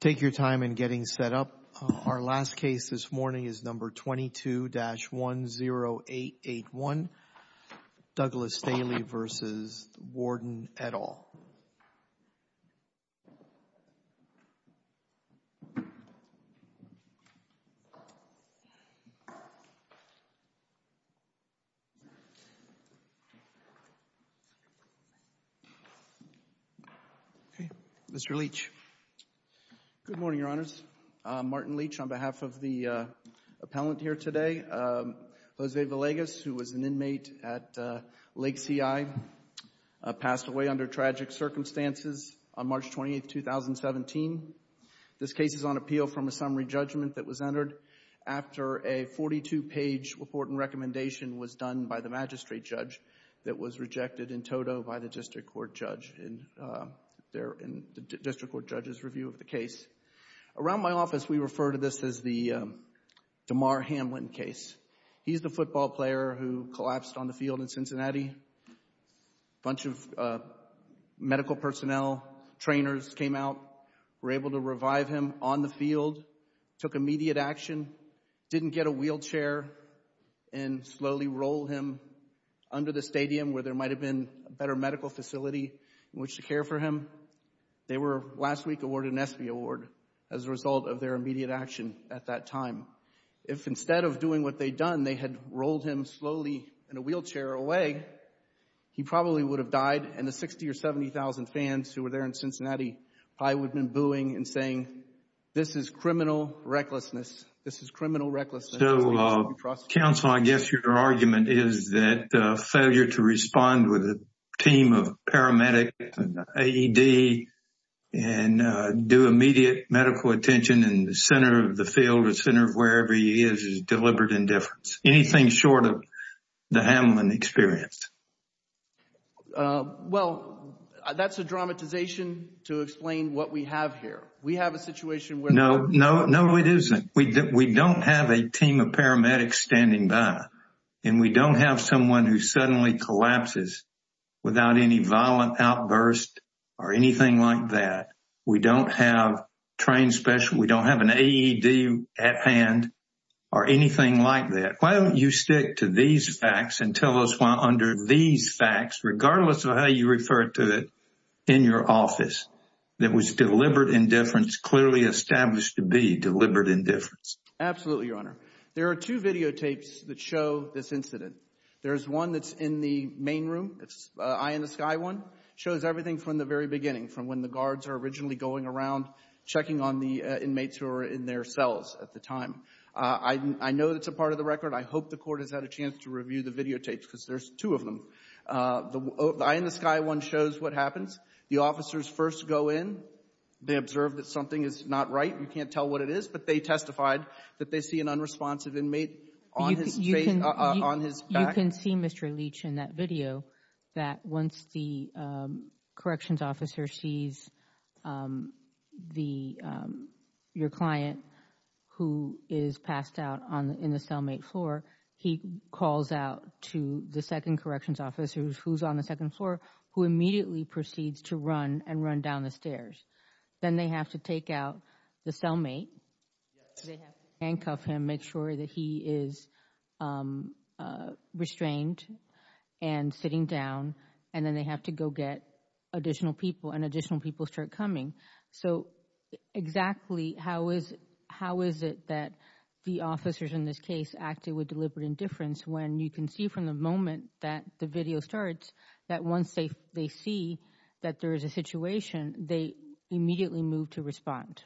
Take your time in getting set up. Our last case this morning is number 22-10881, Douglas Staley v. Warden et al. Mr. Leach. Good morning, Your Honors. Martin Leach on behalf of the appellant here today. Jose Villegas, who was an inmate at Lake CI, passed away under tragic circumstances on March 28, 2017. This case is on appeal from a summary judgment that was entered after a 42-page report and recommendation was done by the magistrate judge that was rejected in toto by the district court judge in the district court judge's review of the case. Around my office, we refer to this as the DeMar Hamlin case. He's the football player who collapsed on the field in Cincinnati. A bunch of medical personnel trainers came out, were able to revive him on the field, took immediate action, didn't get a wheelchair and slowly rolled him under the stadium where there might have been a better medical facility in which to care for him. They were last week awarded an ESPY award as a result of their immediate action at that time. If instead of doing what they'd done, they had rolled him slowly in a wheelchair away, he probably would have died and the 60,000 or 70,000 fans who were there in Cincinnati probably would have been booing and saying, this is criminal recklessness. This is criminal recklessness. So, counsel, I guess your argument is that failure to respond with a team of paramedics and AED and do immediate medical attention in the center of the field, the center of wherever he is, is deliberate indifference. Anything short of the Hamlin experience? Well, that's a dramatization to explain what we have here. We have a situation where- No, no, no, it isn't. We don't have a team of paramedics standing by and we don't have someone who suddenly collapses without any violent outburst or anything like that. We don't have trained specialists. We don't have an AED at hand or anything like that. Why don't you stick to these facts and tell us why under these facts, regardless of how you refer to it in your office, there was deliberate indifference clearly established to be deliberate indifference? Absolutely, Your Honor. There are two videotapes that show this incident. There's one that's in the main room, it's eye in the sky one, shows everything from the very beginning, from when the guards are originally going around checking on the inmates who are in their cells at the time. I know that's a part of the record. I hope the court has had a chance to review the videotapes because there's two of them. The eye in the sky one shows what happens. The officers first go in. They observe that something is not right. You can't tell what it is, but they testified that they see an unresponsive inmate on his face, on his back. You can see, Mr. Leach, in that video that once the corrections officer sees your client who is passed out in the cellmate floor, he calls out to the second corrections officer who's on the second floor, who immediately proceeds to run and run down the stairs. Then they have to take out the cellmate. They have to handcuff him, make sure that he is restrained and sitting down, and then they have to go get additional people, and additional people start coming. So exactly how is it that the officers in this case acted with deliberate indifference when you can see from the moment that the video starts that once they see that there is a situation, they immediately move to respond?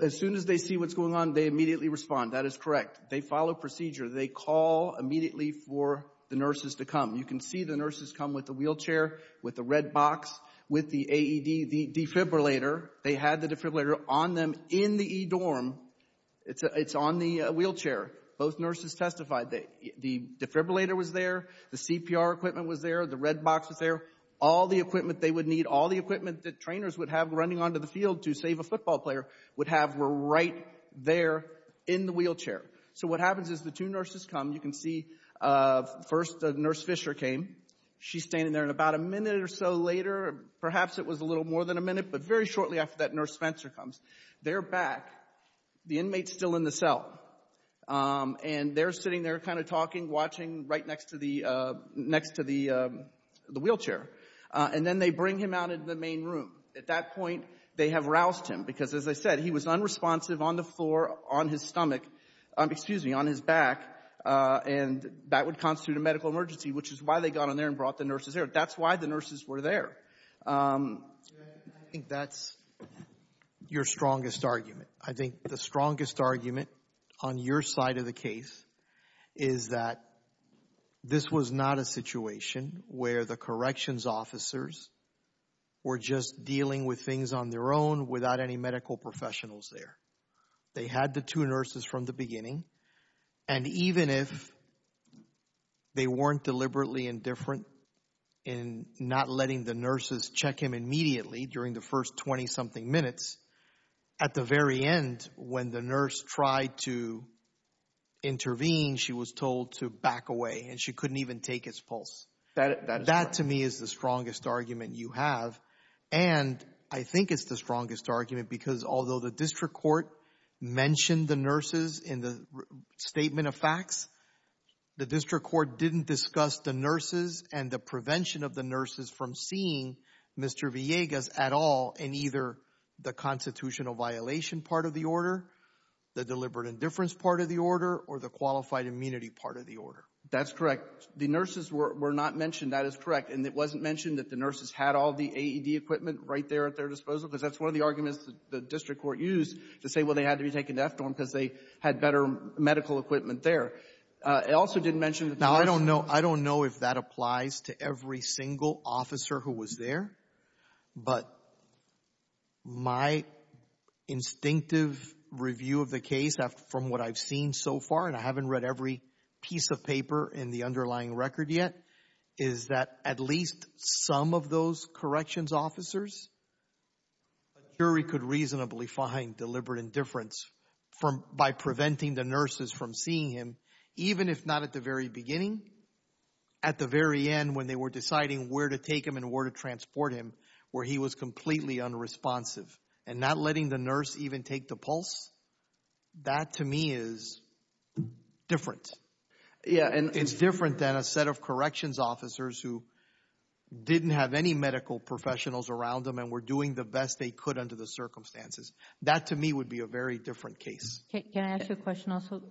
As soon as they see what's going on, they immediately respond. That is correct. They follow procedure. They call immediately for the nurses to come. You can see the nurses come with the wheelchair, with the red box, with the AED, the defibrillator. They had the defibrillator on them in the e-dorm. It's on the wheelchair. Both nurses testified that the defibrillator was there. The CPR equipment was there. The red box was there. All the equipment they would need, all the equipment that trainers would have running onto the field to save a football player would have were right there in the wheelchair. So what happens is the two nurses come. You can see first Nurse Fisher came. She's standing there, and about a minute or so later, perhaps it was a little more than a minute, but very shortly after that, Nurse Spencer comes. They're back. The inmate's still in the cell, and they're sitting there kind of talking, watching right next to the wheelchair, and then they bring him out into the main room. At that point, they have roused him because, as I said, he was unresponsive on the floor, on his stomach, excuse me, on his back, and that would constitute a medical emergency, which is why they got on there and brought the nurses there. That's why the nurses were there. I think that's your strongest argument. I think the strongest argument on your side of the case is that this was not a situation where the corrections officers were just dealing with things on their own without any medical professionals there. They had the two nurses from the beginning, and even if they weren't deliberately indifferent in not letting the nurses check him immediately during the first 20-something minutes, at the very end, when the nurse tried to intervene, she was told to back away, and she couldn't even take his pulse. That to me is the strongest argument you have, and I think it's the strongest argument because although the district court mentioned the nurses in the statement of facts, the district court didn't discuss the nurses and the prevention of the nurses from seeing Mr. Villegas at all in either the constitutional violation part of the order, the deliberate indifference part of the order, or the qualified immunity part of the order. That's correct. The nurses were not mentioned. That is correct, and it wasn't mentioned that the nurses had all the AED equipment right there at their disposal because that's one of the arguments that the district court used to say, well, they had to be taken to FDORM because they had better medical equipment there. It also didn't mention that the nurses... But my instinctive review of the case from what I've seen so far, and I haven't read every piece of paper in the underlying record yet, is that at least some of those corrections officers, a jury could reasonably find deliberate indifference by preventing the nurses from seeing him, even if not at the very beginning. At the very end, when they were deciding where to take him and where to transport him, were he was completely unresponsive? And not letting the nurse even take the pulse? That to me is different. And it's different than a set of corrections officers who didn't have any medical professionals around them and were doing the best they could under the circumstances. That to me would be a very different case. Can I ask you a question also?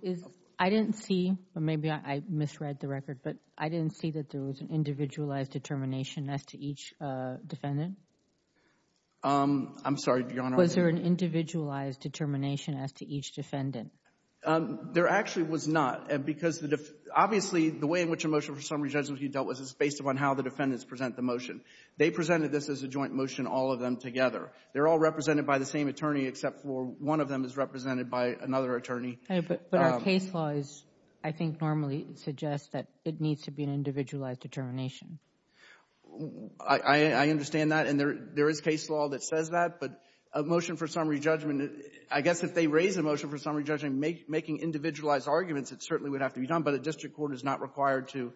I didn't see, or maybe I misread the record, but I didn't see that there was an individualized determination as to each defendant? I'm sorry, Your Honor. Was there an individualized determination as to each defendant? There actually was not, because obviously the way in which a motion for summary judgment can be dealt with is based upon how the defendants present the motion. They presented this as a joint motion, all of them together. They're all represented by the same attorney, except for one of them is represented by another attorney. But our case laws, I think, normally suggest that it needs to be an individualized determination. I understand that, and there is case law that says that, but a motion for summary judgment, I guess if they raise a motion for summary judgment making individualized arguments, it certainly would have to be done. But a district court is not required to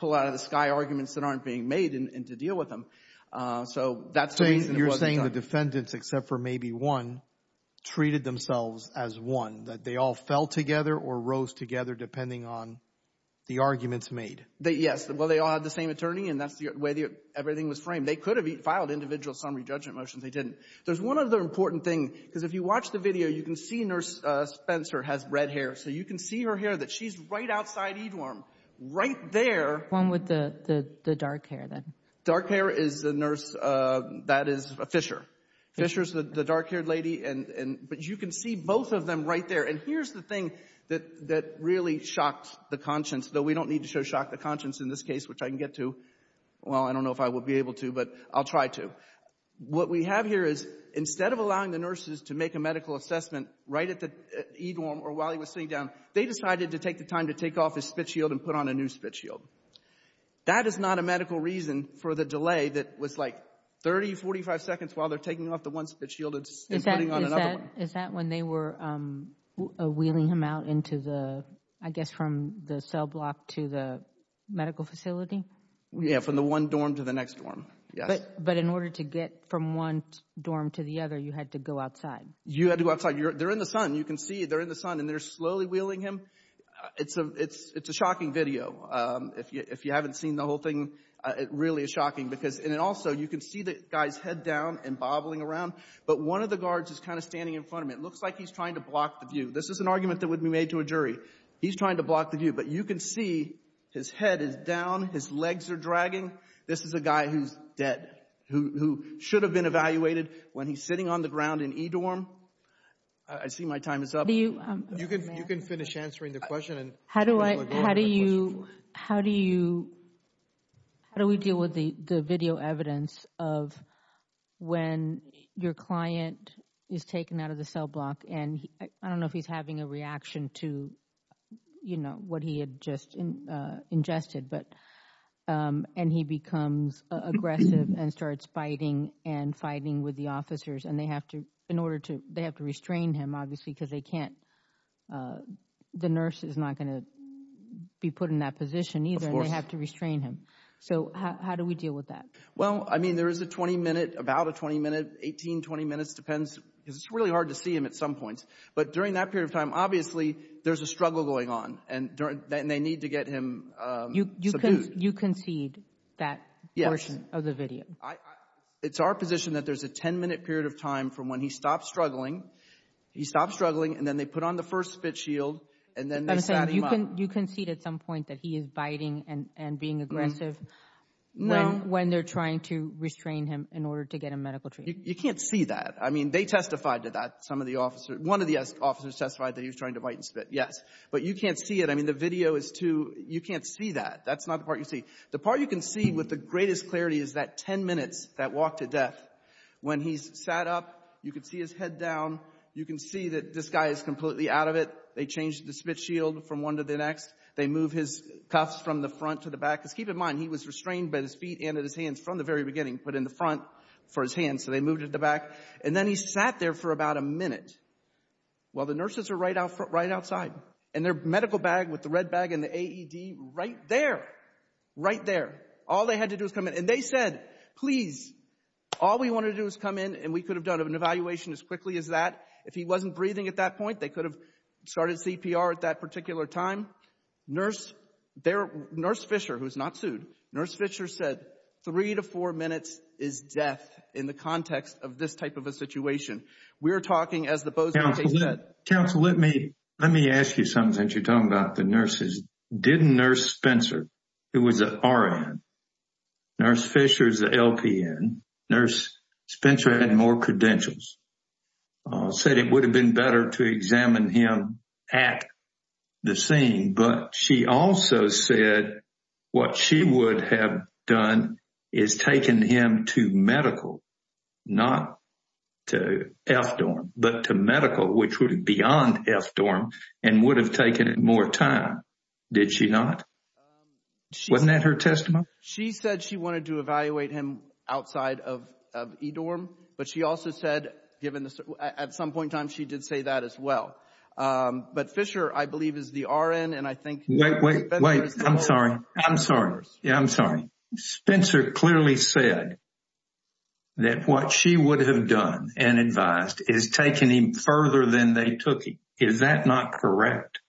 pull out of the sky arguments that aren't being made and to deal with them. So that's the reason it wasn't done. So the defendants, except for maybe one, treated themselves as one, that they all fell together or rose together depending on the arguments made? Yes. Well, they all had the same attorney, and that's the way everything was framed. They could have filed individual summary judgment motions. They didn't. There's one other important thing, because if you watch the video, you can see Nurse Spencer has red hair, so you can see her hair, that she's right outside Edeworm, right there. One with the dark hair, then? Dark hair is a nurse that is a fisher. Fisher is the dark-haired lady, but you can see both of them right there. And here's the thing that really shocked the conscience, though we don't need to show shock the conscience in this case, which I can get to. Well, I don't know if I will be able to, but I'll try to. What we have here is instead of allowing the nurses to make a medical assessment right at Edeworm or while he was sitting down, they decided to take the time to take off his spit shield and put on a new spit shield. That is not a medical reason for the delay that was like 30, 45 seconds while they're taking off the one spit shield and putting on another one. Is that when they were wheeling him out into the, I guess from the cell block to the medical facility? Yeah, from the one dorm to the next dorm, yes. But in order to get from one dorm to the other, you had to go outside. You had to go outside. They're in the sun. You can see they're in the sun, and they're slowly wheeling him. It's a shocking video. If you haven't seen the whole thing, it really is shocking because and also you can see the guy's head down and bobbling around, but one of the guards is kind of standing in front of him. It looks like he's trying to block the view. This is an argument that would be made to a jury. He's trying to block the view, but you can see his head is down. His legs are dragging. This is a guy who's dead, who should have been evaluated when he's sitting on the ground in Edeworm. I see my time is up. You can finish answering the question and we'll go on with the question. How do we deal with the video evidence of when your client is taken out of the cell block and I don't know if he's having a reaction to what he had just ingested, and he becomes aggressive and starts fighting and fighting with the officers, and they have to restrain him obviously because they can't, the nurse is not going to be put in that position either and they have to restrain him. So how do we deal with that? Well I mean there is a 20 minute, about a 20 minute, 18-20 minutes depends because it's really hard to see him at some points, but during that period of time obviously there's a struggle going on and they need to get him subdued. You concede that portion of the video? It's our position that there's a 10 minute period of time from when he stops struggling, he stops struggling and then they put on the first spit shield and then they sat him up. You concede at some point that he is biting and being aggressive when they're trying to restrain him in order to get him medical treatment? You can't see that. I mean they testified to that, some of the officers, one of the officers testified that he was trying to bite and spit, yes. But you can't see it. I mean the video is too, you can't see that. That's not the part you see. The part you can see with the greatest clarity is that 10 minutes, that walk to death. When he's sat up, you can see his head down, you can see that this guy is completely out of it. They change the spit shield from one to the next. They move his cuffs from the front to the back. Because keep in mind, he was restrained by his feet and at his hands from the very beginning, put in the front for his hands, so they moved him to the back. And then he sat there for about a minute while the nurses are right outside and their medical bag with the red bag and the AED right there. Right there. All they had to do was come in. And they said, please, all we want to do is come in and we could have done an evaluation as quickly as that. If he wasn't breathing at that point, they could have started CPR at that particular time. Nurse, there, Nurse Fisher, who's not sued, Nurse Fisher said, three to four minutes is death in the context of this type of a situation. We're talking as the Bozeman case said. Counsel, let me ask you something since you're talking about the nurses. Didn't Nurse Spencer, who was an RN, Nurse Fisher's an LPN, Nurse Spencer had more credentials, said it would have been better to examine him at the scene. But she also said what she would have done is taken him to medical, not to FDORM, but to medical, which would have been beyond FDORM and would have taken it more time. Did she not? Wasn't that her testimony? She said she wanted to evaluate him outside of EDORM. But she also said, at some point in time, she did say that as well. But Fisher, I believe, is the RN. And I think- Wait, wait, wait. I'm sorry. I'm sorry. Yeah, I'm sorry. Spencer clearly said that what she would have done and advised is taking him further than they took him. Is that not correct?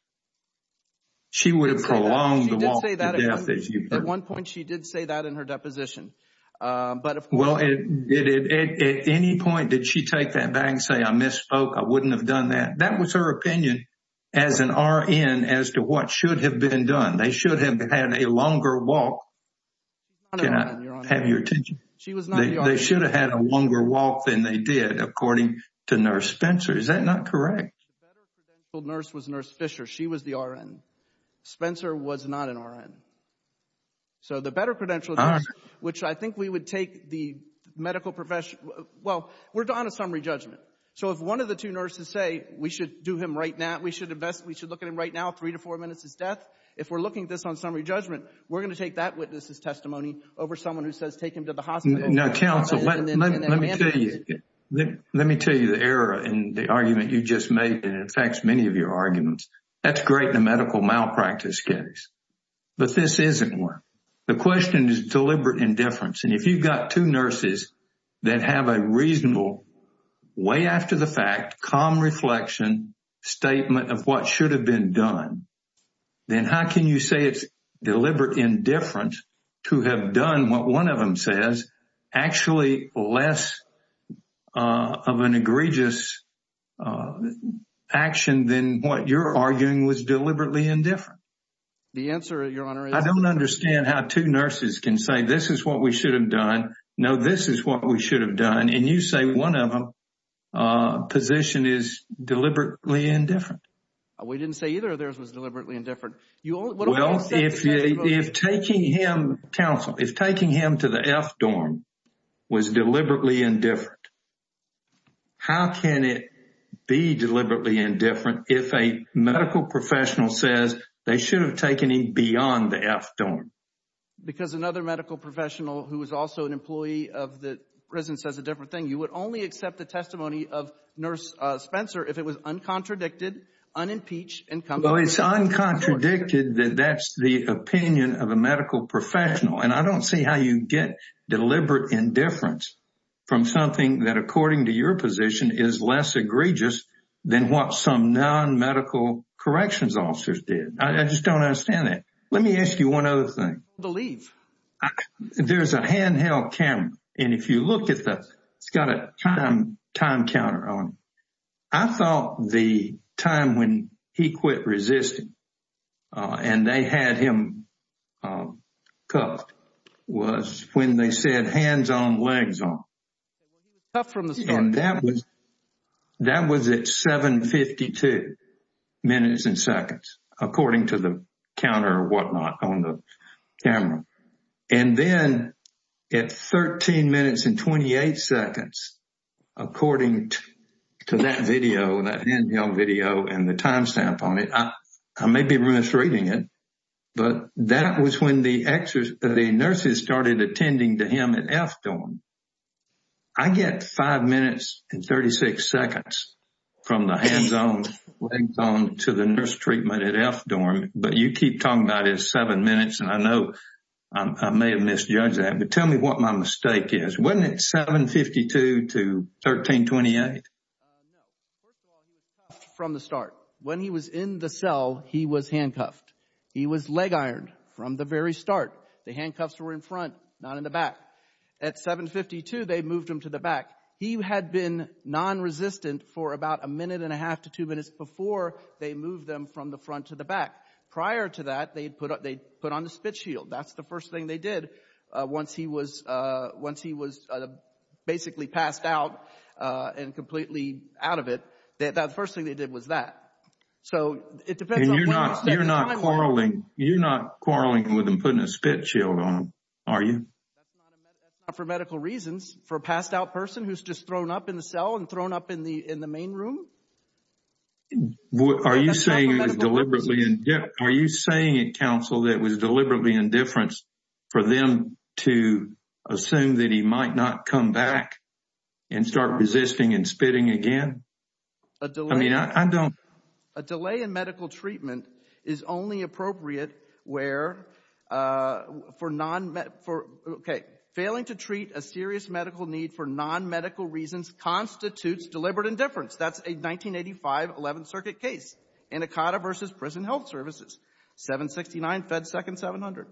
She would have prolonged the walk to death, as you put it. At one point, she did say that in her deposition. But of course- Well, at any point, did she take that back and say, I misspoke, I wouldn't have done that? That was her opinion as an RN as to what should have been done. They should have had a longer walk. She's not an RN, Your Honor. Can I have your attention? She was not an RN. They should have had a longer walk than they did, according to Nurse Spencer. Is that not correct? The better credentialed nurse was Nurse Fisher. She was the RN. Spencer was not an RN. So the better credentialed nurse, which I think we would take the medical profession- Well, we're on a summary judgment. So if one of the two nurses say, we should do him right now, we should invest, we should look at him right now, three to four minutes his death. If we're looking at this on summary judgment, we're going to take that witness's testimony over someone who says, take him to the hospital- Now, counsel, let me tell you the error in the argument you just made, and it affects many of your arguments. That's great in a medical malpractice case, but this isn't one. The question is deliberate indifference. And if you've got two nurses that have a reasonable, way after the fact, calm reflection statement of what should have been done, then how can you say it's deliberate indifference to have done what one of them says, actually less of an egregious action than what you're arguing was deliberately indifferent? The answer, Your Honor, is- I don't understand how two nurses can say, this is what we should have done. No, this is what we should have done. And you say one of them's position is deliberately indifferent. We didn't say either of theirs was deliberately indifferent. You only- Well, if taking him, counsel, if taking him to the F dorm was deliberately indifferent, how can it be deliberately indifferent if a medical professional says they should have taken him beyond the F dorm? Because another medical professional who was also an employee of the prison says a different thing. You would only accept the testimony of Nurse Spencer if it was uncontradicted, unimpeached, incumbent- Well, it's uncontradicted that that's the opinion of a medical professional. And I don't see how you get deliberate indifference from something that, according to your position, is less egregious than what some non-medical corrections officers did. I just don't understand that. Let me ask you one other thing. I don't believe. There's a handheld camera, and if you look at that, it's got a time counter on it. I thought the time when he quit resisting and they had him cuffed was when they said hands on, legs on. So when he was cuffed from the start. And that was at 7.52 minutes and seconds, according to the counter or whatnot on the camera. And then at 13 minutes and 28 seconds, according to that video, that handheld video and the timestamp on it, I may be misreading it, but that was when the nurses started attending to him at F dorm. I get five minutes and 36 seconds from the hands on, legs on to the nurse treatment at F dorm. But you keep talking about it as seven minutes, and I know I may have misjudged that. But tell me what my mistake is. Wasn't it 7.52 to 13.28? No. First of all, he was cuffed from the start. When he was in the cell, he was handcuffed. He was leg-ironed from the very start. The handcuffs were in front, not in the back. At 7.52, they moved him to the back. He had been non-resistant for about a minute and a half to two minutes before they moved them from the front to the back. Prior to that, they put on the spit shield. That's the first thing they did once he was basically passed out and completely out of it. The first thing they did was that. So it depends on where he was there. You're not quarreling with him putting a spit shield on him, are you? That's not for medical reasons. For a passed out person who's just thrown up in the cell and thrown up in the main room? Are you saying it was deliberately indifference for them to assume that he might not come back and start resisting and spitting again? I mean, I don't— A delay in medical treatment is only appropriate where—for non—okay, failing to treat a serious medical need for non-medical reasons constitutes deliberate indifference. That's a 1985 11th Circuit case in ECOTA versus Prison Health Services, 769 Fed Second 700.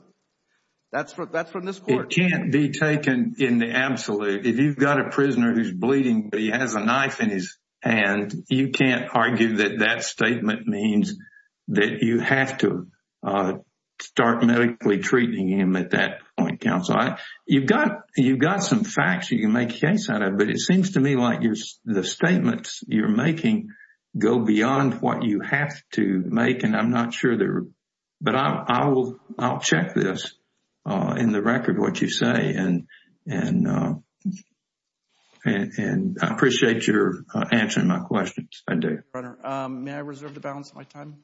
That's from this court. It can't be taken in the absolute. If you've got a prisoner who's bleeding but he has a knife in his hand, you can't argue that that statement means that you have to start medically treating him at that point, counsel. You've got some facts you can make a case out of, but it seems to me like the statements you're making go beyond what you have to make, and I'm not sure they're—but I'll check this in the record, what you say, and I appreciate your answering my questions. I do. Your Honor, may I reserve the balance of my time?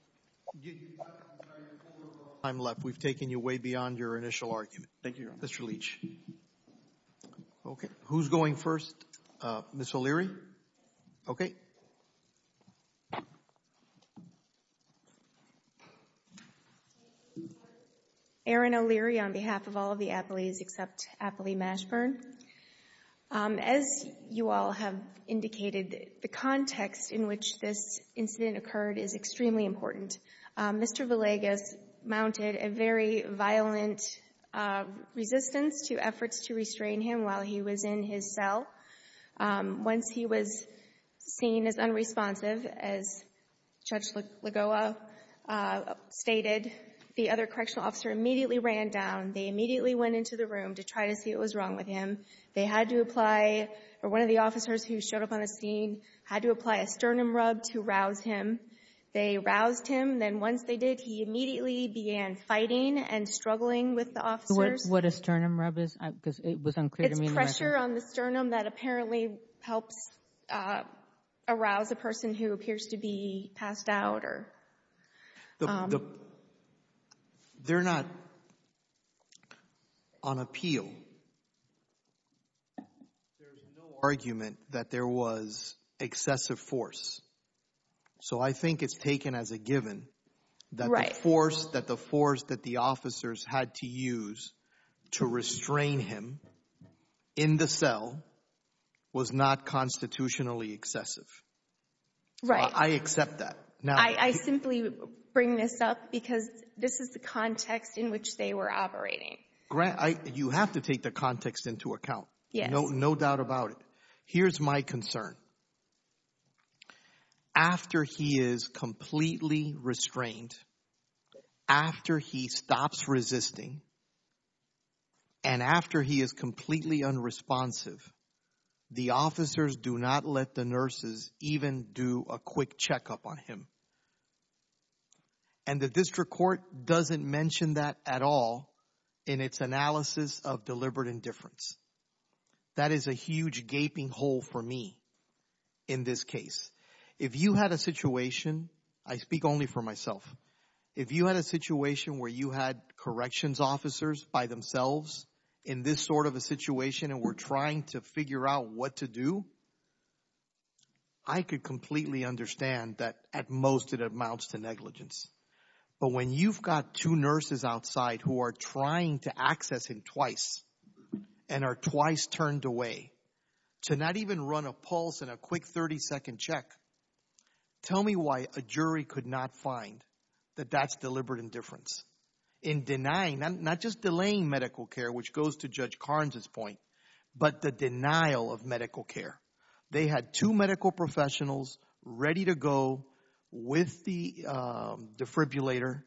You have time left. We've taken you way beyond your initial argument. Thank you, Your Honor. Mr. Leach. Okay. Who's going first? Ms. O'Leary? Okay. Ms. O'Leary, on behalf of all of the Appleys except Appley Mashburn, as you all have indicated, the context in which this incident occurred is extremely important. Mr. Villegas mounted a very violent resistance to efforts to restrain him while he was in his cell. Once he was seen as unresponsive, as Judge Lagoa stated, the other correctional officer immediately ran down, they immediately went into the room to try to see what was wrong with him. They had to apply—or one of the officers who showed up on the scene had to apply a sternum rub to rouse him. They roused him, then once they did, he immediately began fighting and struggling with the officers. What a sternum rub is? Because it was unclear to me— Was there pressure on the sternum that apparently helps arouse a person who appears to be passed out or— They're not on appeal. There's no argument that there was excessive force. So I think it's taken as a given that the force that the officers had to use to restrain him in the cell was not constitutionally excessive. Right. I accept that. Now— I simply bring this up because this is the context in which they were operating. You have to take the context into account. Yes. No doubt about it. Here's my concern. After he is completely restrained, after he stops resisting, and after he is completely unresponsive, the officers do not let the nurses even do a quick checkup on him. And the district court doesn't mention that at all in its analysis of deliberate indifference. That is a huge gaping hole for me in this case. If you had a situation—I speak only for myself—if you had a situation where you had corrections officers by themselves in this sort of a situation and were trying to figure out what to do, I could completely understand that at most it amounts to negligence. But when you've got two nurses outside who are trying to access him twice and are twice turned away to not even run a pulse and a quick 30-second check, tell me why a jury could not find that that's deliberate indifference in denying—not just delaying medical care, which goes to Judge Carnes' point, but the denial of medical care. They had two medical professionals ready to go with the defibrillator.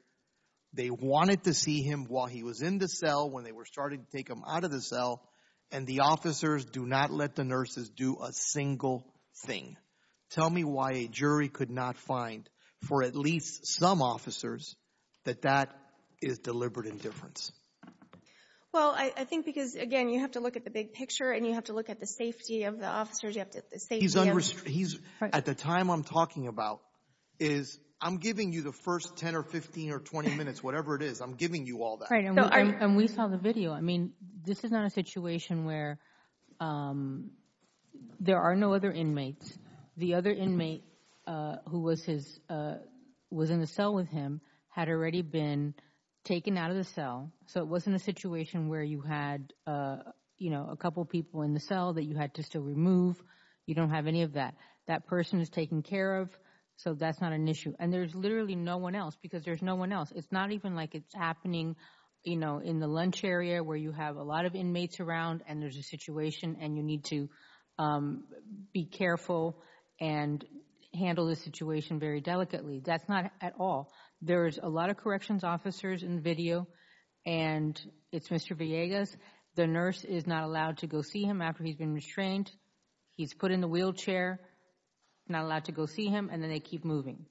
They wanted to see him while he was in the cell, when they were starting to take him out of the cell, and the officers do not let the nurses do a single thing. Tell me why a jury could not find, for at least some officers, that that is deliberate indifference. Well, I think because, again, you have to look at the big picture and you have to look at the safety of the officers, you have to look at the safety of— At the time I'm talking about, I'm giving you the first 10 or 15 or 20 minutes, whatever it is. I'm giving you all that. Right. And we saw the video. I mean, this is not a situation where there are no other inmates. The other inmate who was in the cell with him had already been taken out of the cell, so it wasn't a situation where you had a couple people in the cell that you had to still remove. You don't have any of that. That person is taken care of, so that's not an issue. And there's literally no one else because there's no one else. It's not even like it's happening in the lunch area where you have a lot of inmates around and there's a situation and you need to be careful and handle the situation very delicately. That's not at all. There's a lot of corrections officers in the video, and it's Mr. Villegas. The nurse is not allowed to go see him after he's been restrained. He's put in the wheelchair, not allowed to go see him, and then they keep moving.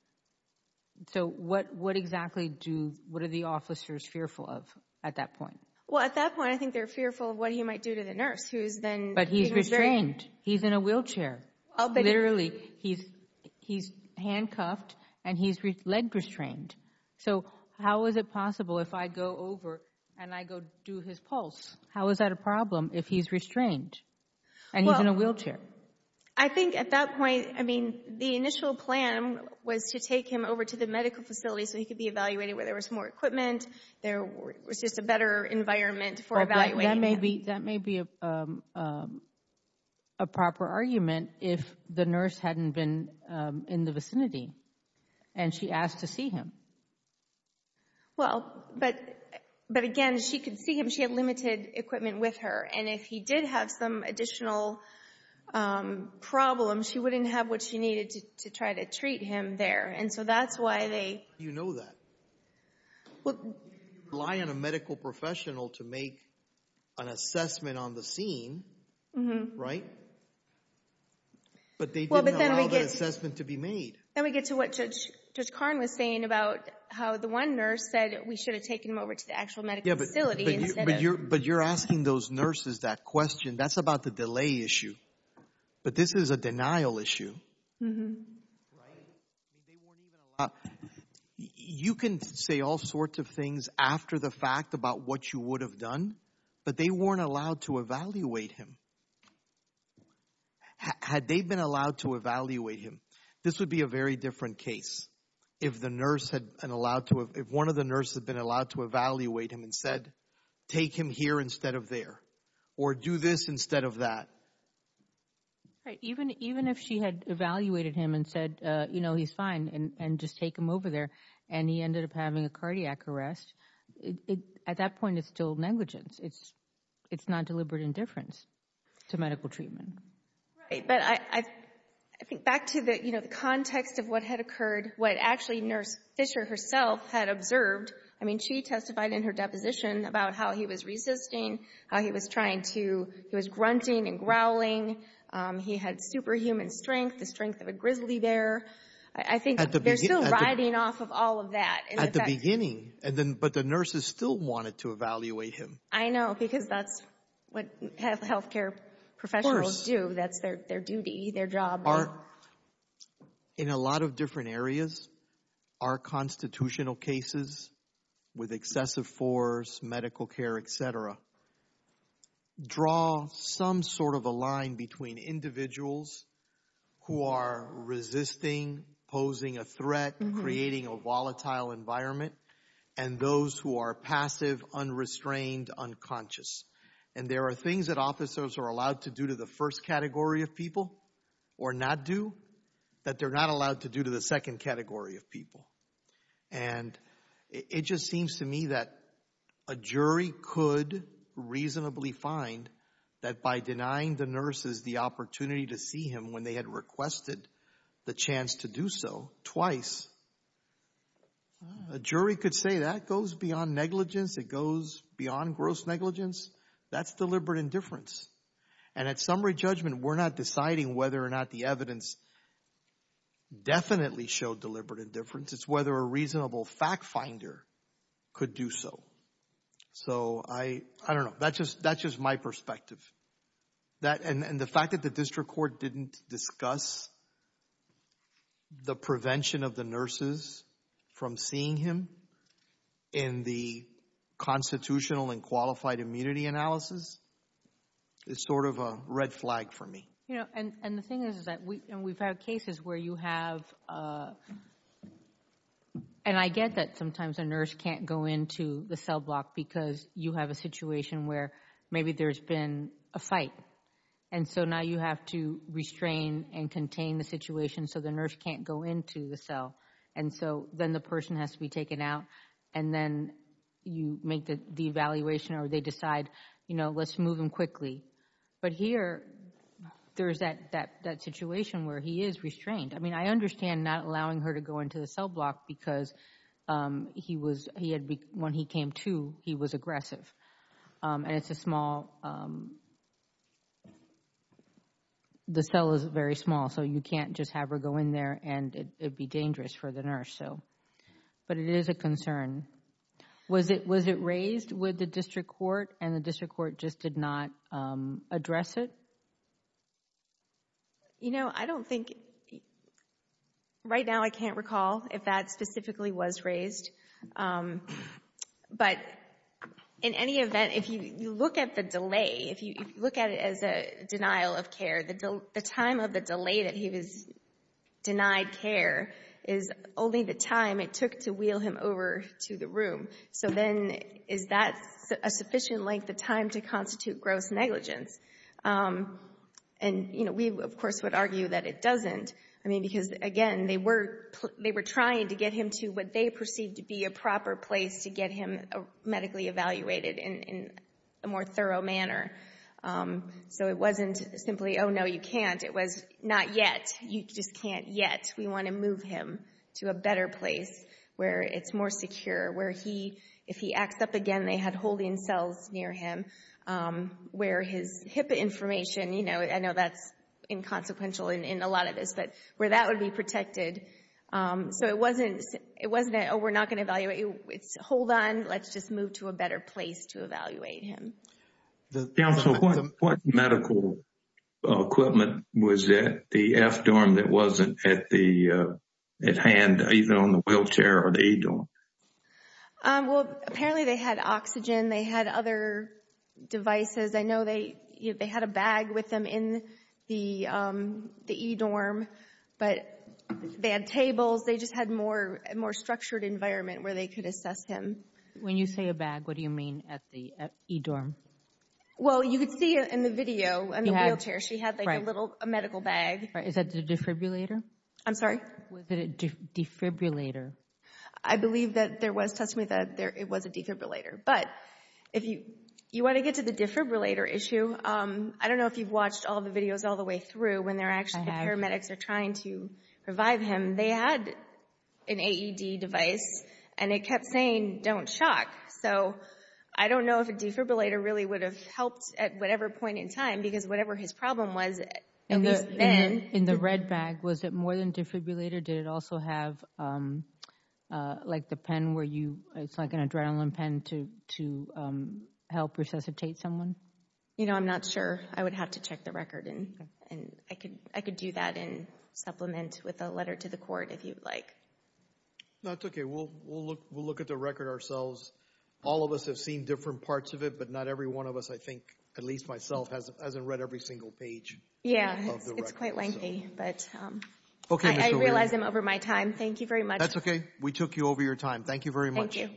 So what exactly do—what are the officers fearful of at that point? Well, at that point, I think they're fearful of what he might do to the nurse who is then— He's in a wheelchair. Literally, he's handcuffed and he's leg restrained. So how is it possible if I go over and I go do his pulse, how is that a problem if he's restrained and he's in a wheelchair? I think at that point, I mean, the initial plan was to take him over to the medical facility so he could be evaluated where there was more equipment, there was just a better environment for evaluating him. That may be a proper argument if the nurse hadn't been in the vicinity and she asked to see him. Well, but again, if she could see him, she had limited equipment with her, and if he did have some additional problems, she wouldn't have what she needed to try to treat him there. And so that's why they— You know that. Well, if you rely on a medical professional to make an assessment on the scene, right? But they didn't allow that assessment to be made. Then we get to what Judge Karn was saying about how the one nurse said we should have taken him over to the actual medical facility instead of— But you're asking those nurses that question. That's about the delay issue. But this is a denial issue, right? I mean, they weren't even allowed— You can say all sorts of things after the fact about what you would have done, but they weren't allowed to evaluate him. Had they been allowed to evaluate him, this would be a very different case. If one of the nurses had been allowed to evaluate him and said, take him here instead of there, or do this instead of that. Right. Even if she had evaluated him and said, you know, he's fine, and just take him over there, and he ended up having a cardiac arrest, at that point it's still negligence. It's non-deliberate indifference to medical treatment. Right. But I think back to the context of what had occurred, what actually Nurse Fisher herself had observed. I mean, she testified in her deposition about how he was resisting, how he was grunting and growling. He had superhuman strength, the strength of a grizzly bear. I think they're still riding off of all of that. At the beginning, but the nurses still wanted to evaluate him. I know, because that's what health care professionals do. That's their duty, their job. In a lot of different areas, our constitutional cases with excessive force, medical care, et cetera, draw some sort of a line between individuals who are resisting, posing a threat, creating a volatile environment, and those who are passive, unrestrained, unconscious. And there are things that officers are allowed to do to the first category of people, or not do, that they're not allowed to do to the second category of people. And it just seems to me that a jury could reasonably find that by denying the nurses the opportunity to see him when they had requested the chance to do so twice, a jury could say that goes beyond negligence, it goes beyond gross negligence, that's deliberate indifference. And at summary judgment, we're not deciding whether or not the evidence definitely showed deliberate indifference. It's whether a reasonable fact finder could do so. So I don't know, that's just my perspective. And the fact that the district court didn't discuss the prevention of the nurses from seeing him in the constitutional and qualified immunity analysis is sort of a red flag for me. You know, and the thing is that we've had cases where you have, and I get that sometimes a nurse can't go into the cell block because you have a situation where maybe there's been a fight. And so now you have to restrain and contain the situation so the nurse can't go into the cell. And so then the person has to be taken out and then you make the evaluation or they decide, you know, let's move him quickly. But here, there's that situation where he is restrained. I mean, I understand not allowing her to go into the cell block because he was, he had, when he came to, he was aggressive and it's a small, the cell is very small so you can't just have her go in there and it'd be dangerous for the nurse, so. But it is a concern. Was it raised with the district court and the district court just did not address it? You know, I don't think, right now I can't recall if that specifically was raised. But in any event, if you look at the delay, if you look at it as a denial of care, the time of the delay that he was denied care is only the time it took to wheel him over to the room. So then is that a sufficient length of time to constitute gross negligence? And you know, we of course would argue that it doesn't. I mean, because again, they were trying to get him to what they perceived to be a proper place to get him medically evaluated in a more thorough manner. So it wasn't simply, oh no, you can't. It was not yet, you just can't yet. We want to move him to a better place where it's more secure, where he, if he acts up again they had holding cells near him, where his HIPAA information, you know, I know that's inconsequential in a lot of this, but where that would be protected. So it wasn't, it wasn't a, oh, we're not going to evaluate, it's hold on, let's just move to a better place to evaluate him. Council, what medical equipment was at the F-dorm that wasn't at the, at hand, either on the wheelchair or the E-dorm? Well, apparently they had oxygen. They had other devices. I know they had a bag with them in the E-dorm, but they had tables. They just had more, a more structured environment where they could assess him. When you say a bag, what do you mean at the E-dorm? Well, you could see in the video, in the wheelchair, she had like a little, a medical bag. Is that the defibrillator? I'm sorry? Was it a defibrillator? I believe that there was testimony that it was a defibrillator, but if you, you want to get to the defibrillator issue, I don't know if you've watched all the videos all the way through when they're actually, paramedics are trying to revive him. They had an AED device and it kept saying, don't shock. So I don't know if a defibrillator really would have helped at whatever point in time because whatever his problem was, at least then. In the red bag, was it more than defibrillator? Did it also have like the pen where you, it's like an adrenaline pen to help resuscitate someone? You know, I'm not sure. I would have to check the record and I could, I could do that and supplement with a letter to the court if you'd like. That's okay. We'll, we'll look, we'll look at the record ourselves. All of us have seen different parts of it, but not every one of us, I think, at least myself, hasn't read every single page. Yeah. It's quite lengthy, but I realize I'm over my time. Thank you very much. That's okay. We took you over your time. Thank you very much. Thank you.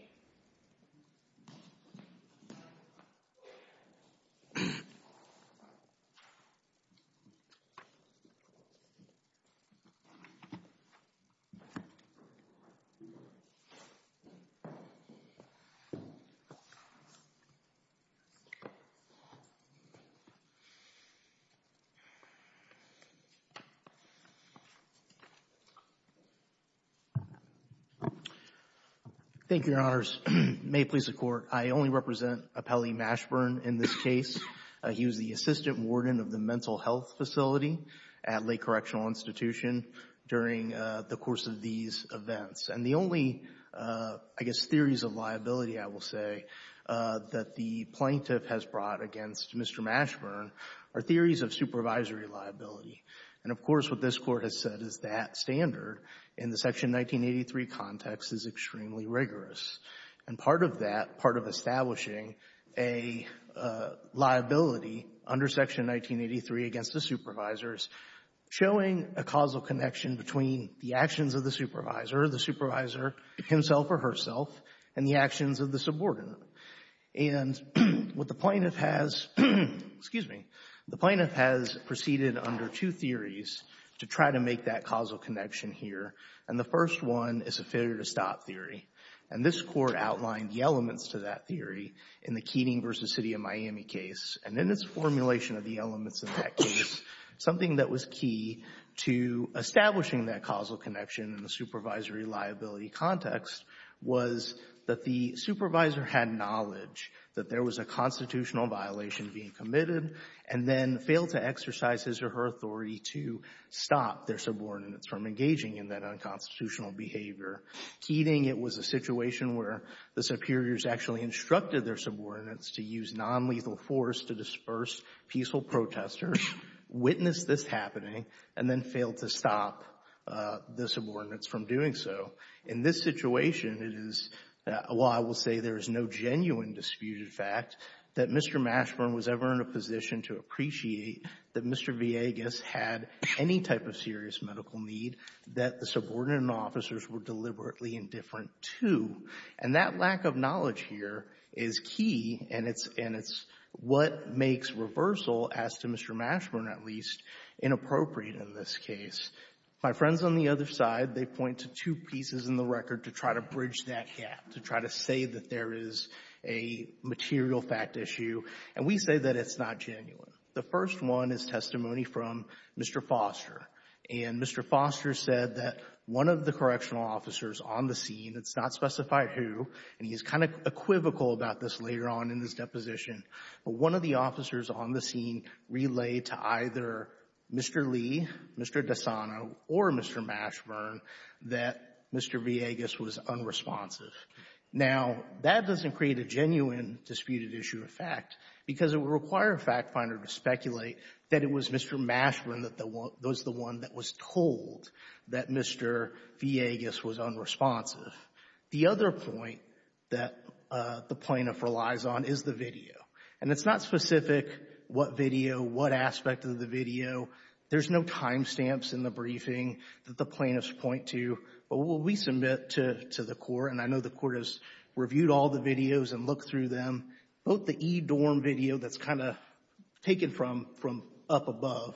Thank you, Your Honors. May it please the Court, I only represent Appellee Mashburn in this case. He was the Assistant Warden of the Mental Health Facility at Lake Correctional Institution during the course of these events. And the only, I guess, theories of liability, I will say, that the plaintiff has brought against Mr. Mashburn are theories of supervisory liability. And, of course, what this Court has said is that standard in the Section 1983 context is extremely rigorous. And part of that, part of establishing a liability under Section 1983 against the supervisors showing a causal connection between the actions of the supervisor, the supervisor himself or herself, and the actions of the subordinate. And what the plaintiff has, excuse me, the plaintiff has proceeded under two theories to try to make that causal connection here. And the first one is a failure to stop theory. And this Court outlined the elements to that theory in the Keating v. City of Miami case. And in its formulation of the elements in that case, something that was key to establishing that causal connection in the supervisory liability context was that the supervisor had knowledge that there was a constitutional violation being committed and then failed to exercise his or her authority to stop their subordinates from engaging in that unconstitutional behavior. Keating, it was a situation where the superiors actually instructed their subordinates to use nonlethal force to disperse peaceful protesters, witness this happening, and then fail to stop the subordinates from doing so. In this situation, it is why I will say there is no genuine disputed fact that Mr. Mashburn was ever in a position to appreciate that Mr. Villegas had any type of serious medical need that the subordinate officers were deliberately indifferent to. And that lack of knowledge here is key, and it's what makes reversal, as to Mr. Mashburn at least, inappropriate in this case. My friends on the other side, they point to two pieces in the record to try to bridge that gap, to try to say that there is a material fact issue, and we say that it's not genuine. The first one is testimony from Mr. Foster. And Mr. Foster said that one of the correctional officers on the scene, it's not specified who, and he's kind of equivocal about this later on in this deposition, but one of the officers on the scene relayed to either Mr. Lee, Mr. Dasano, or Mr. Mashburn that Mr. Villegas was unresponsive. Now, that doesn't create a genuine disputed issue of fact because it would require a fact finder to speculate that it was Mr. Mashburn that was the one that was told that Mr. Villegas was unresponsive. The other point that the plaintiff relies on is the video. And it's not specific what video, what aspect of the video. There's no timestamps in the briefing that the plaintiffs point to, but what we submit to the court, and I know the court has reviewed all the videos and looked through them, both the e-dorm video that's kind of taken from up above,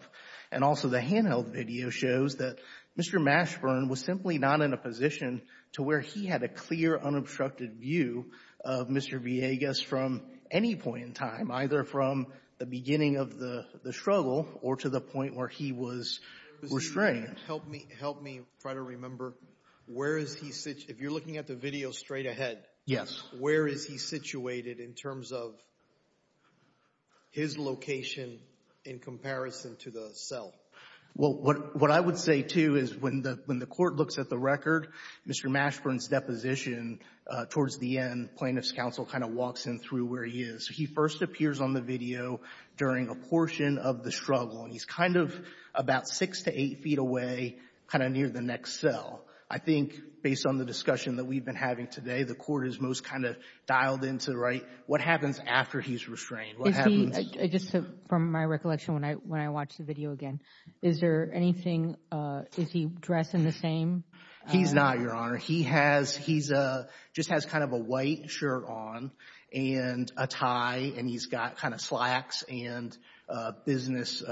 and also the handheld video shows that Mr. Mashburn was simply not in a position to where he had a clear, unobstructed view of Mr. Villegas from any point in time, either from the beginning of the struggle or to the point where he was restrained. Help me try to remember, where is he, if you're looking at the video straight ahead, where is he situated in terms of his location in comparison to the cell? Well, what I would say, too, is when the court looks at the record, Mr. Mashburn's deposition towards the end, plaintiff's counsel kind of walks him through where he is. He first appears on the video during a portion of the struggle, and he's kind of about six to eight feet away, kind of near the next cell. I think, based on the discussion that we've been having today, the court is most kind of dialed in to, right, what happens after he's restrained? What happens? I just, from my recollection when I watched the video again, is there anything, is he dressed in the same? He's not, Your Honor. He has, he just has kind of a white shirt on and a tie, and he's got kind of slacks and business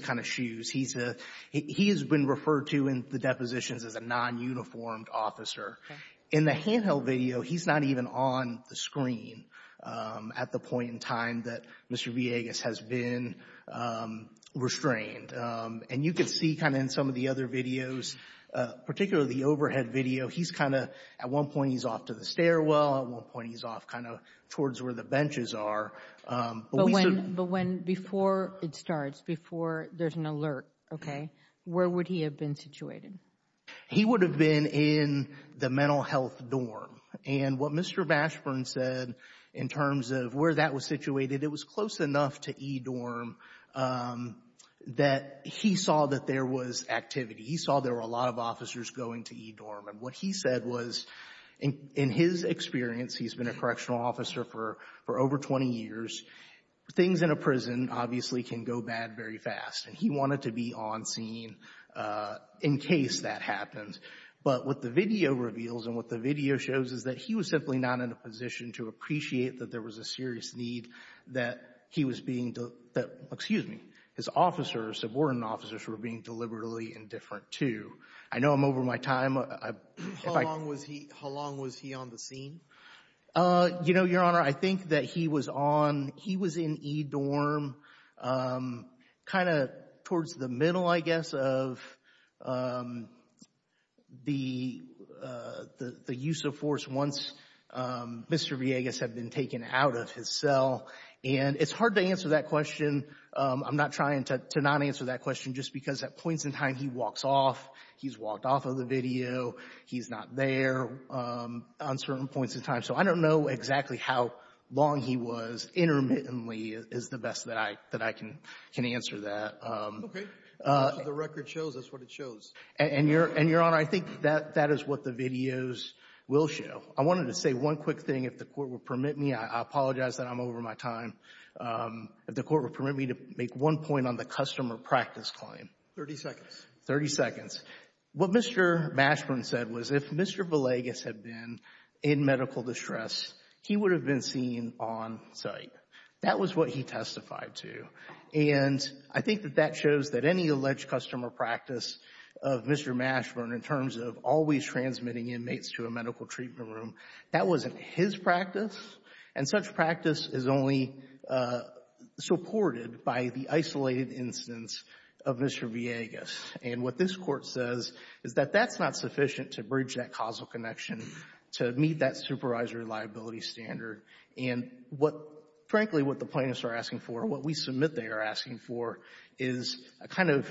kind of shoes. He has been referred to in the depositions as a non-uniformed officer. In the handheld video, he's not even on the screen at the point in time that Mr. Villegas has been restrained. And you can see kind of in some of the other videos, particularly the overhead video, he's kind of, at one point he's off to the stairwell, at one point he's off kind of towards where the benches are. But when, before it starts, before there's an alert, okay, where would he have been situated? He would have been in the mental health dorm. And what Mr. Bashburn said in terms of where that was situated, it was close enough to E-Dorm that he saw that there was activity. He saw there were a lot of officers going to E-Dorm. And what he said was, in his experience, he's been a correctional officer for over 20 years, things in a prison obviously can go bad very fast. And he wanted to be on scene in case that happens. But what the video reveals and what the video shows is that he was simply not in a position to appreciate that there was a serious need that he was being, that, excuse me, his officers, subordinate officers, were being deliberately indifferent to. I know I'm over my time. I, if I... How long was he, how long was he on the scene? You know, Your Honor, I think that he was on, he was in E-Dorm, kind of towards the middle, I guess, of the use of force once Mr. Villegas had been taken out of his cell. And it's hard to answer that question. I'm not trying to not answer that question just because at points in time he walks off, he's walked off of the video, he's not there on certain points in time. So I don't know exactly how long he was intermittently is the best that I, that I can, can answer that. Okay. As long as the record shows, that's what it shows. And Your Honor, I think that is what the videos will show. I wanted to say one quick thing, if the Court would permit me, I apologize that I'm over my time. If the Court would permit me to make one point on the customer practice claim. Thirty seconds. Thirty seconds. What Mr. Mashburn said was if Mr. Villegas had been in medical distress, he would have been seen on site. That was what he testified to. And I think that that shows that any alleged customer practice of Mr. Mashburn in terms of always transmitting inmates to a medical treatment room, that wasn't his practice. And such practice is only supported by the isolated instance of Mr. Villegas. And what this Court says is that that's not sufficient to bridge that causal connection to meet that supervisory liability standard. And what, frankly, what the plaintiffs are asking for, what we submit they are asking for, is a kind of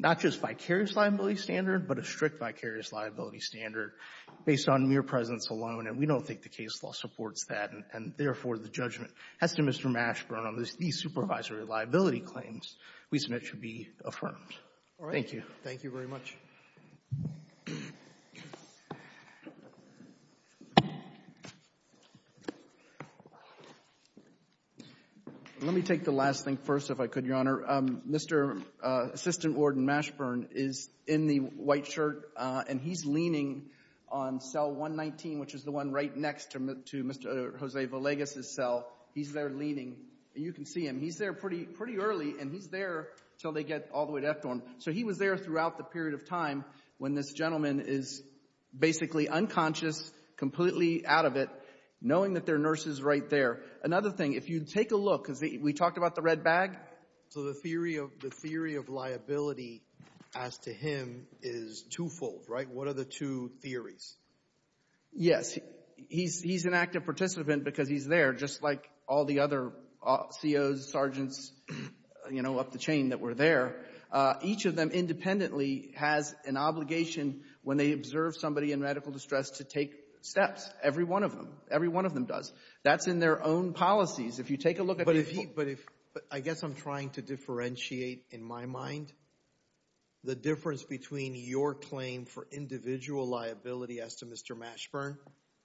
not just vicarious liability standard, but a strict vicarious liability standard based on mere presence alone. And we don't think the case law supports that. And therefore, the judgment as to Mr. Mashburn on these supervisory liability claims we submit should be affirmed. Thank you. All right. Thank you very much. Let me take the last thing first, if I could, Your Honor. Mr. Assistant Warden Mashburn is in the white shirt, and he's leaning on cell 119, which is the one right next to Mr. Jose Villegas' cell. He's there leaning. And you can see him. He's there pretty early, and he's there until they get all the way to FDORM. So he was there throughout the period of time when this gentleman is basically unconscious, completely out of it, knowing that their nurse is right there. Another thing, if you take a look, because we talked about the red bag. So the theory of liability as to him is twofold, right? What are the two theories? Yes. First, he's an active participant because he's there, just like all the other COs, sergeants, you know, up the chain that were there. Each of them independently has an obligation when they observe somebody in medical distress to take steps. Every one of them. Every one of them does. That's in their own policies. If you take a look at the... But if he... But if... I guess I'm trying to differentiate, in my mind, the difference between your claim for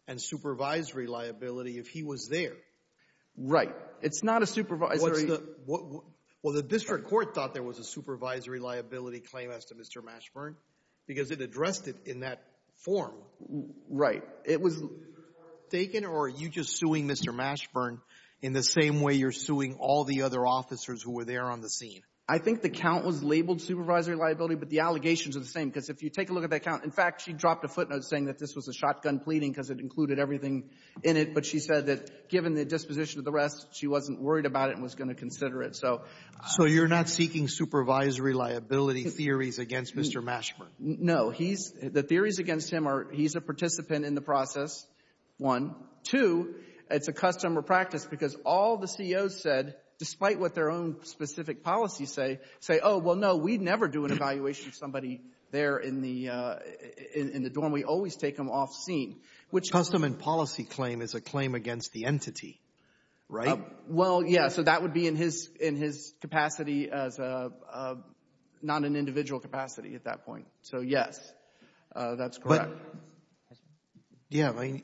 and supervisory liability if he was there. Right. It's not a supervisory... What's the... Well, the district court thought there was a supervisory liability claim as to Mr. Mashburn because it addressed it in that form. Right. It was... Is the district court mistaken, or are you just suing Mr. Mashburn in the same way you're suing all the other officers who were there on the scene? I think the count was labeled supervisory liability, but the allegations are the same. Because if you take a look at that count, in fact, she dropped a footnote saying that this was a shotgun pleading because it included everything in it, but she said that given the disposition of the rest, she wasn't worried about it and was going to consider it, so... So you're not seeking supervisory liability theories against Mr. Mashburn? No. He's... The theories against him are he's a participant in the process, one. Two, it's a custom or practice because all the CEOs said, despite what their own specific policies say, say, oh, well, no, we'd never do an evaluation of somebody there in the dorm. And we always take them off scene, which... Custom and policy claim is a claim against the entity, right? Well, yeah. So that would be in his capacity as a... Not an individual capacity at that point. So, yes, that's correct. But, yeah, I mean,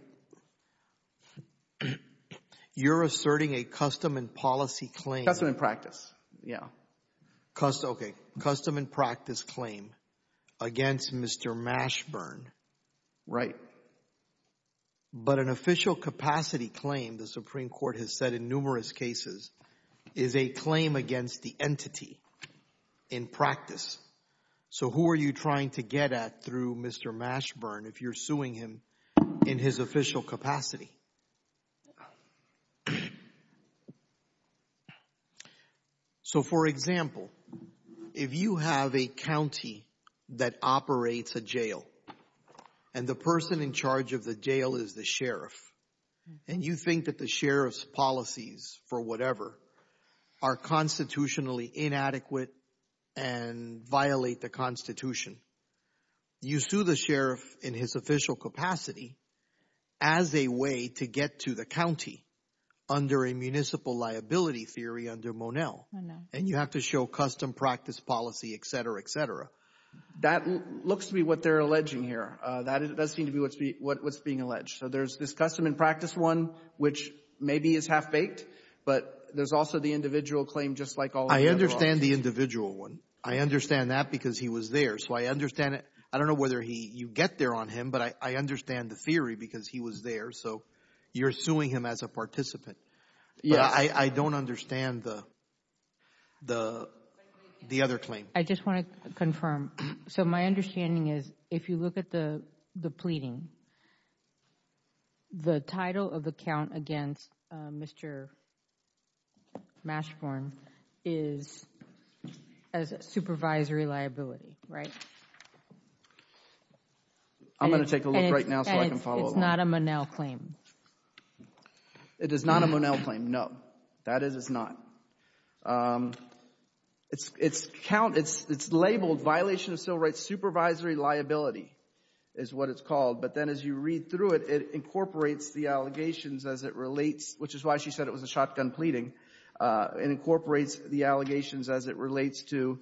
you're asserting a custom and policy claim... Custom and practice, yeah. Custom... Right. But an official capacity claim, the Supreme Court has said in numerous cases, is a claim against the entity in practice. So who are you trying to get at through Mr. Mashburn if you're suing him in his official capacity? So, for example, if you have a county that operates a jail, and the person in charge of the jail is the sheriff, and you think that the sheriff's policies for whatever are constitutionally inadequate and violate the Constitution, you sue the sheriff in his official capacity as a way to get to the county under a municipal liability theory under Monell. And you have to show custom practice policy, et cetera, et cetera. That looks to be what they're alleging here. That does seem to be what's being alleged. So there's this custom and practice one, which maybe is half-baked, but there's also the individual claim just like all of the other ones. I understand the individual one. I understand that because he was there. So I understand it. I don't know whether you get there on him, but I understand the theory because he was there. So you're suing him as a participant. Yeah. I don't understand the other claim. I just want to confirm. So my understanding is, if you look at the pleading, the title of the count against Mr. Mashborn is as a supervisory liability, right? I'm going to take a look right now so I can follow along. And it's not a Monell claim? It is not a Monell claim, no. That is, it's not. It's labeled violation of civil rights supervisory liability is what it's called, but then as you read through it, it incorporates the allegations as it relates, which is why she said it was a shotgun pleading, and incorporates the allegations as it relates to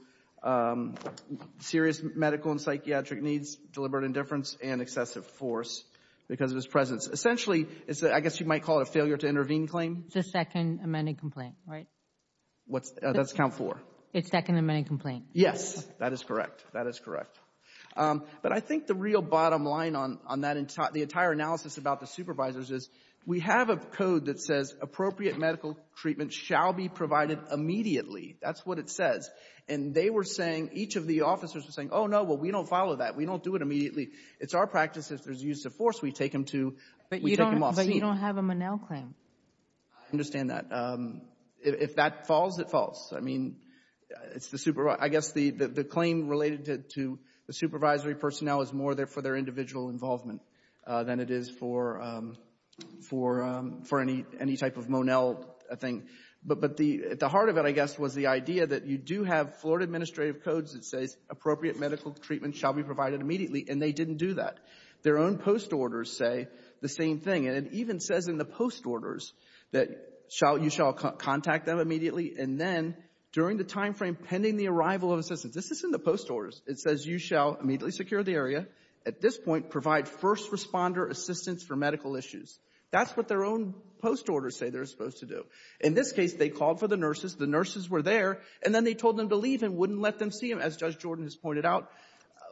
serious medical and psychiatric needs, deliberate indifference, and excessive force because of his presence. Essentially, I guess you might call it a failure to intervene claim. It's a second amended complaint, right? What's that? That's count four. It's second amended complaint. Yes. That is correct. That is correct. But I think the real bottom line on the entire analysis about the supervisors is we have a code that says appropriate medical treatment shall be provided immediately. That's what it says. And they were saying, each of the officers were saying, oh, no, well, we don't follow that. We don't do it immediately. It's our practice. If there's use of force, we take them to, we take them off scene. But you don't have a Monell claim? I understand that. If that falls, it falls. I mean, it's the, I guess the claim related to the supervisory personnel is more for their for any type of Monell thing. But the heart of it, I guess, was the idea that you do have Florida administrative codes that says appropriate medical treatment shall be provided immediately. And they didn't do that. Their own post orders say the same thing. And it even says in the post orders that you shall contact them immediately. And then during the time frame pending the arrival of assistance. This is in the post orders. It says you shall immediately secure the area. At this point, provide first responder assistance for medical issues. That's what their own post orders say they're supposed to do. In this case, they called for the nurses. The nurses were there. And then they told them to leave and wouldn't let them see him. As Judge Jordan has pointed out,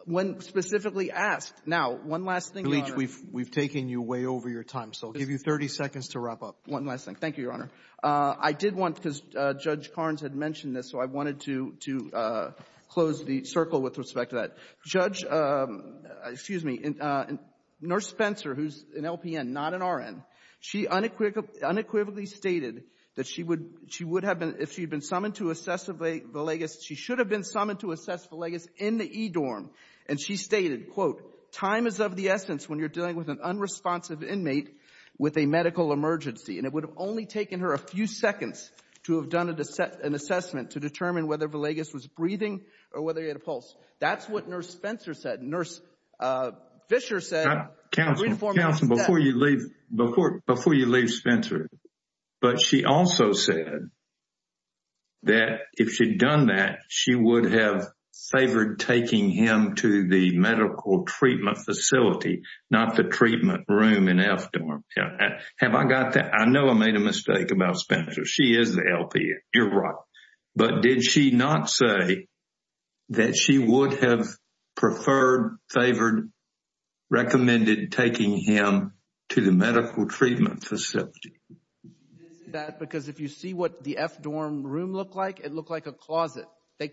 when specifically asked, now, one last thing, Your Honor. We've taken you way over your time. So I'll give you 30 seconds to wrap up. One last thing. Thank you, Your Honor. I did want, because Judge Carnes had mentioned this, so I wanted to close the circle with respect to that. Judge, excuse me, Nurse Spencer, who's an LPN, not an RN, she unequivocally stated that she would have been, if she had been summoned to assess Villegas, she should have been summoned to assess Villegas in the E-dorm. And she stated, quote, time is of the essence when you're dealing with an unresponsive inmate with a medical emergency. And it would have only taken her a few seconds to have done an assessment to determine whether Villegas was breathing or whether he had a pulse. That's what Nurse Spencer said. Nurse Fischer said, I'm going to inform you of this step. Counselor, before you leave, before you leave Spencer, but she also said that if she'd done that, she would have favored taking him to the medical treatment facility, not the treatment room in F-dorm. Have I got that? I know I made a mistake about Spencer. She is the LPN. You're right. But did she not say that she would have preferred, favored, recommended taking him to the medical treatment facility? Because if you see what the F-dorm room looked like, it looked like a closet.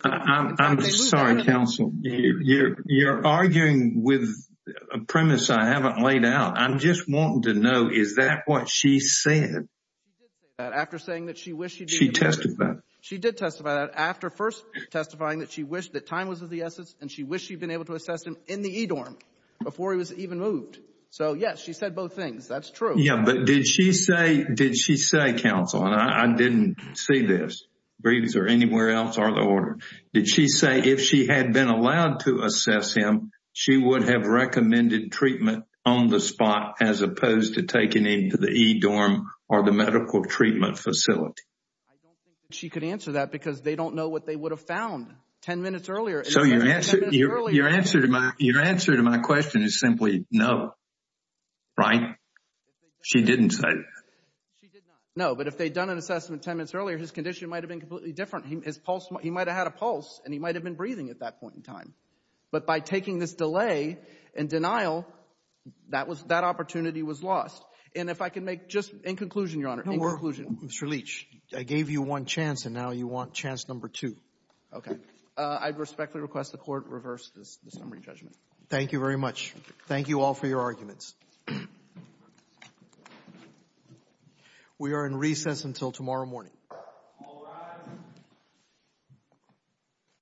I'm sorry, Counselor, you're arguing with a premise I haven't laid out. I'm just wanting to know, is that what she said? She did say that after saying that she wished she did. She testified. She did testify that after first testifying that she wished that time was of the essence and she wished she'd been able to assess him in the E-dorm before he was even moved. So yes, she said both things. That's true. Yeah, but did she say, did she say, Counselor, and I didn't see this, breathes or anywhere else or the order, did she say if she had been allowed to assess him, she would have recommended treatment on the spot as opposed to taking him to the E-dorm or the medical treatment facility? I don't think she could answer that because they don't know what they would have found ten minutes earlier. So your answer, your answer to my, your answer to my question is simply no, right? She didn't say that. She did not. No, but if they'd done an assessment ten minutes earlier, his condition might have been completely different. His pulse, he might have had a pulse and he might have been breathing at that point in time. But by taking this delay and denial, that was, that opportunity was lost. And if I can make just in conclusion, Your Honor, in conclusion. Mr. Leach, I gave you one chance and now you want chance number two. Okay. I respectfully request the Court reverse this summary judgment. Thank you very much. Thank you all for your arguments. We are in recess until tomorrow morning.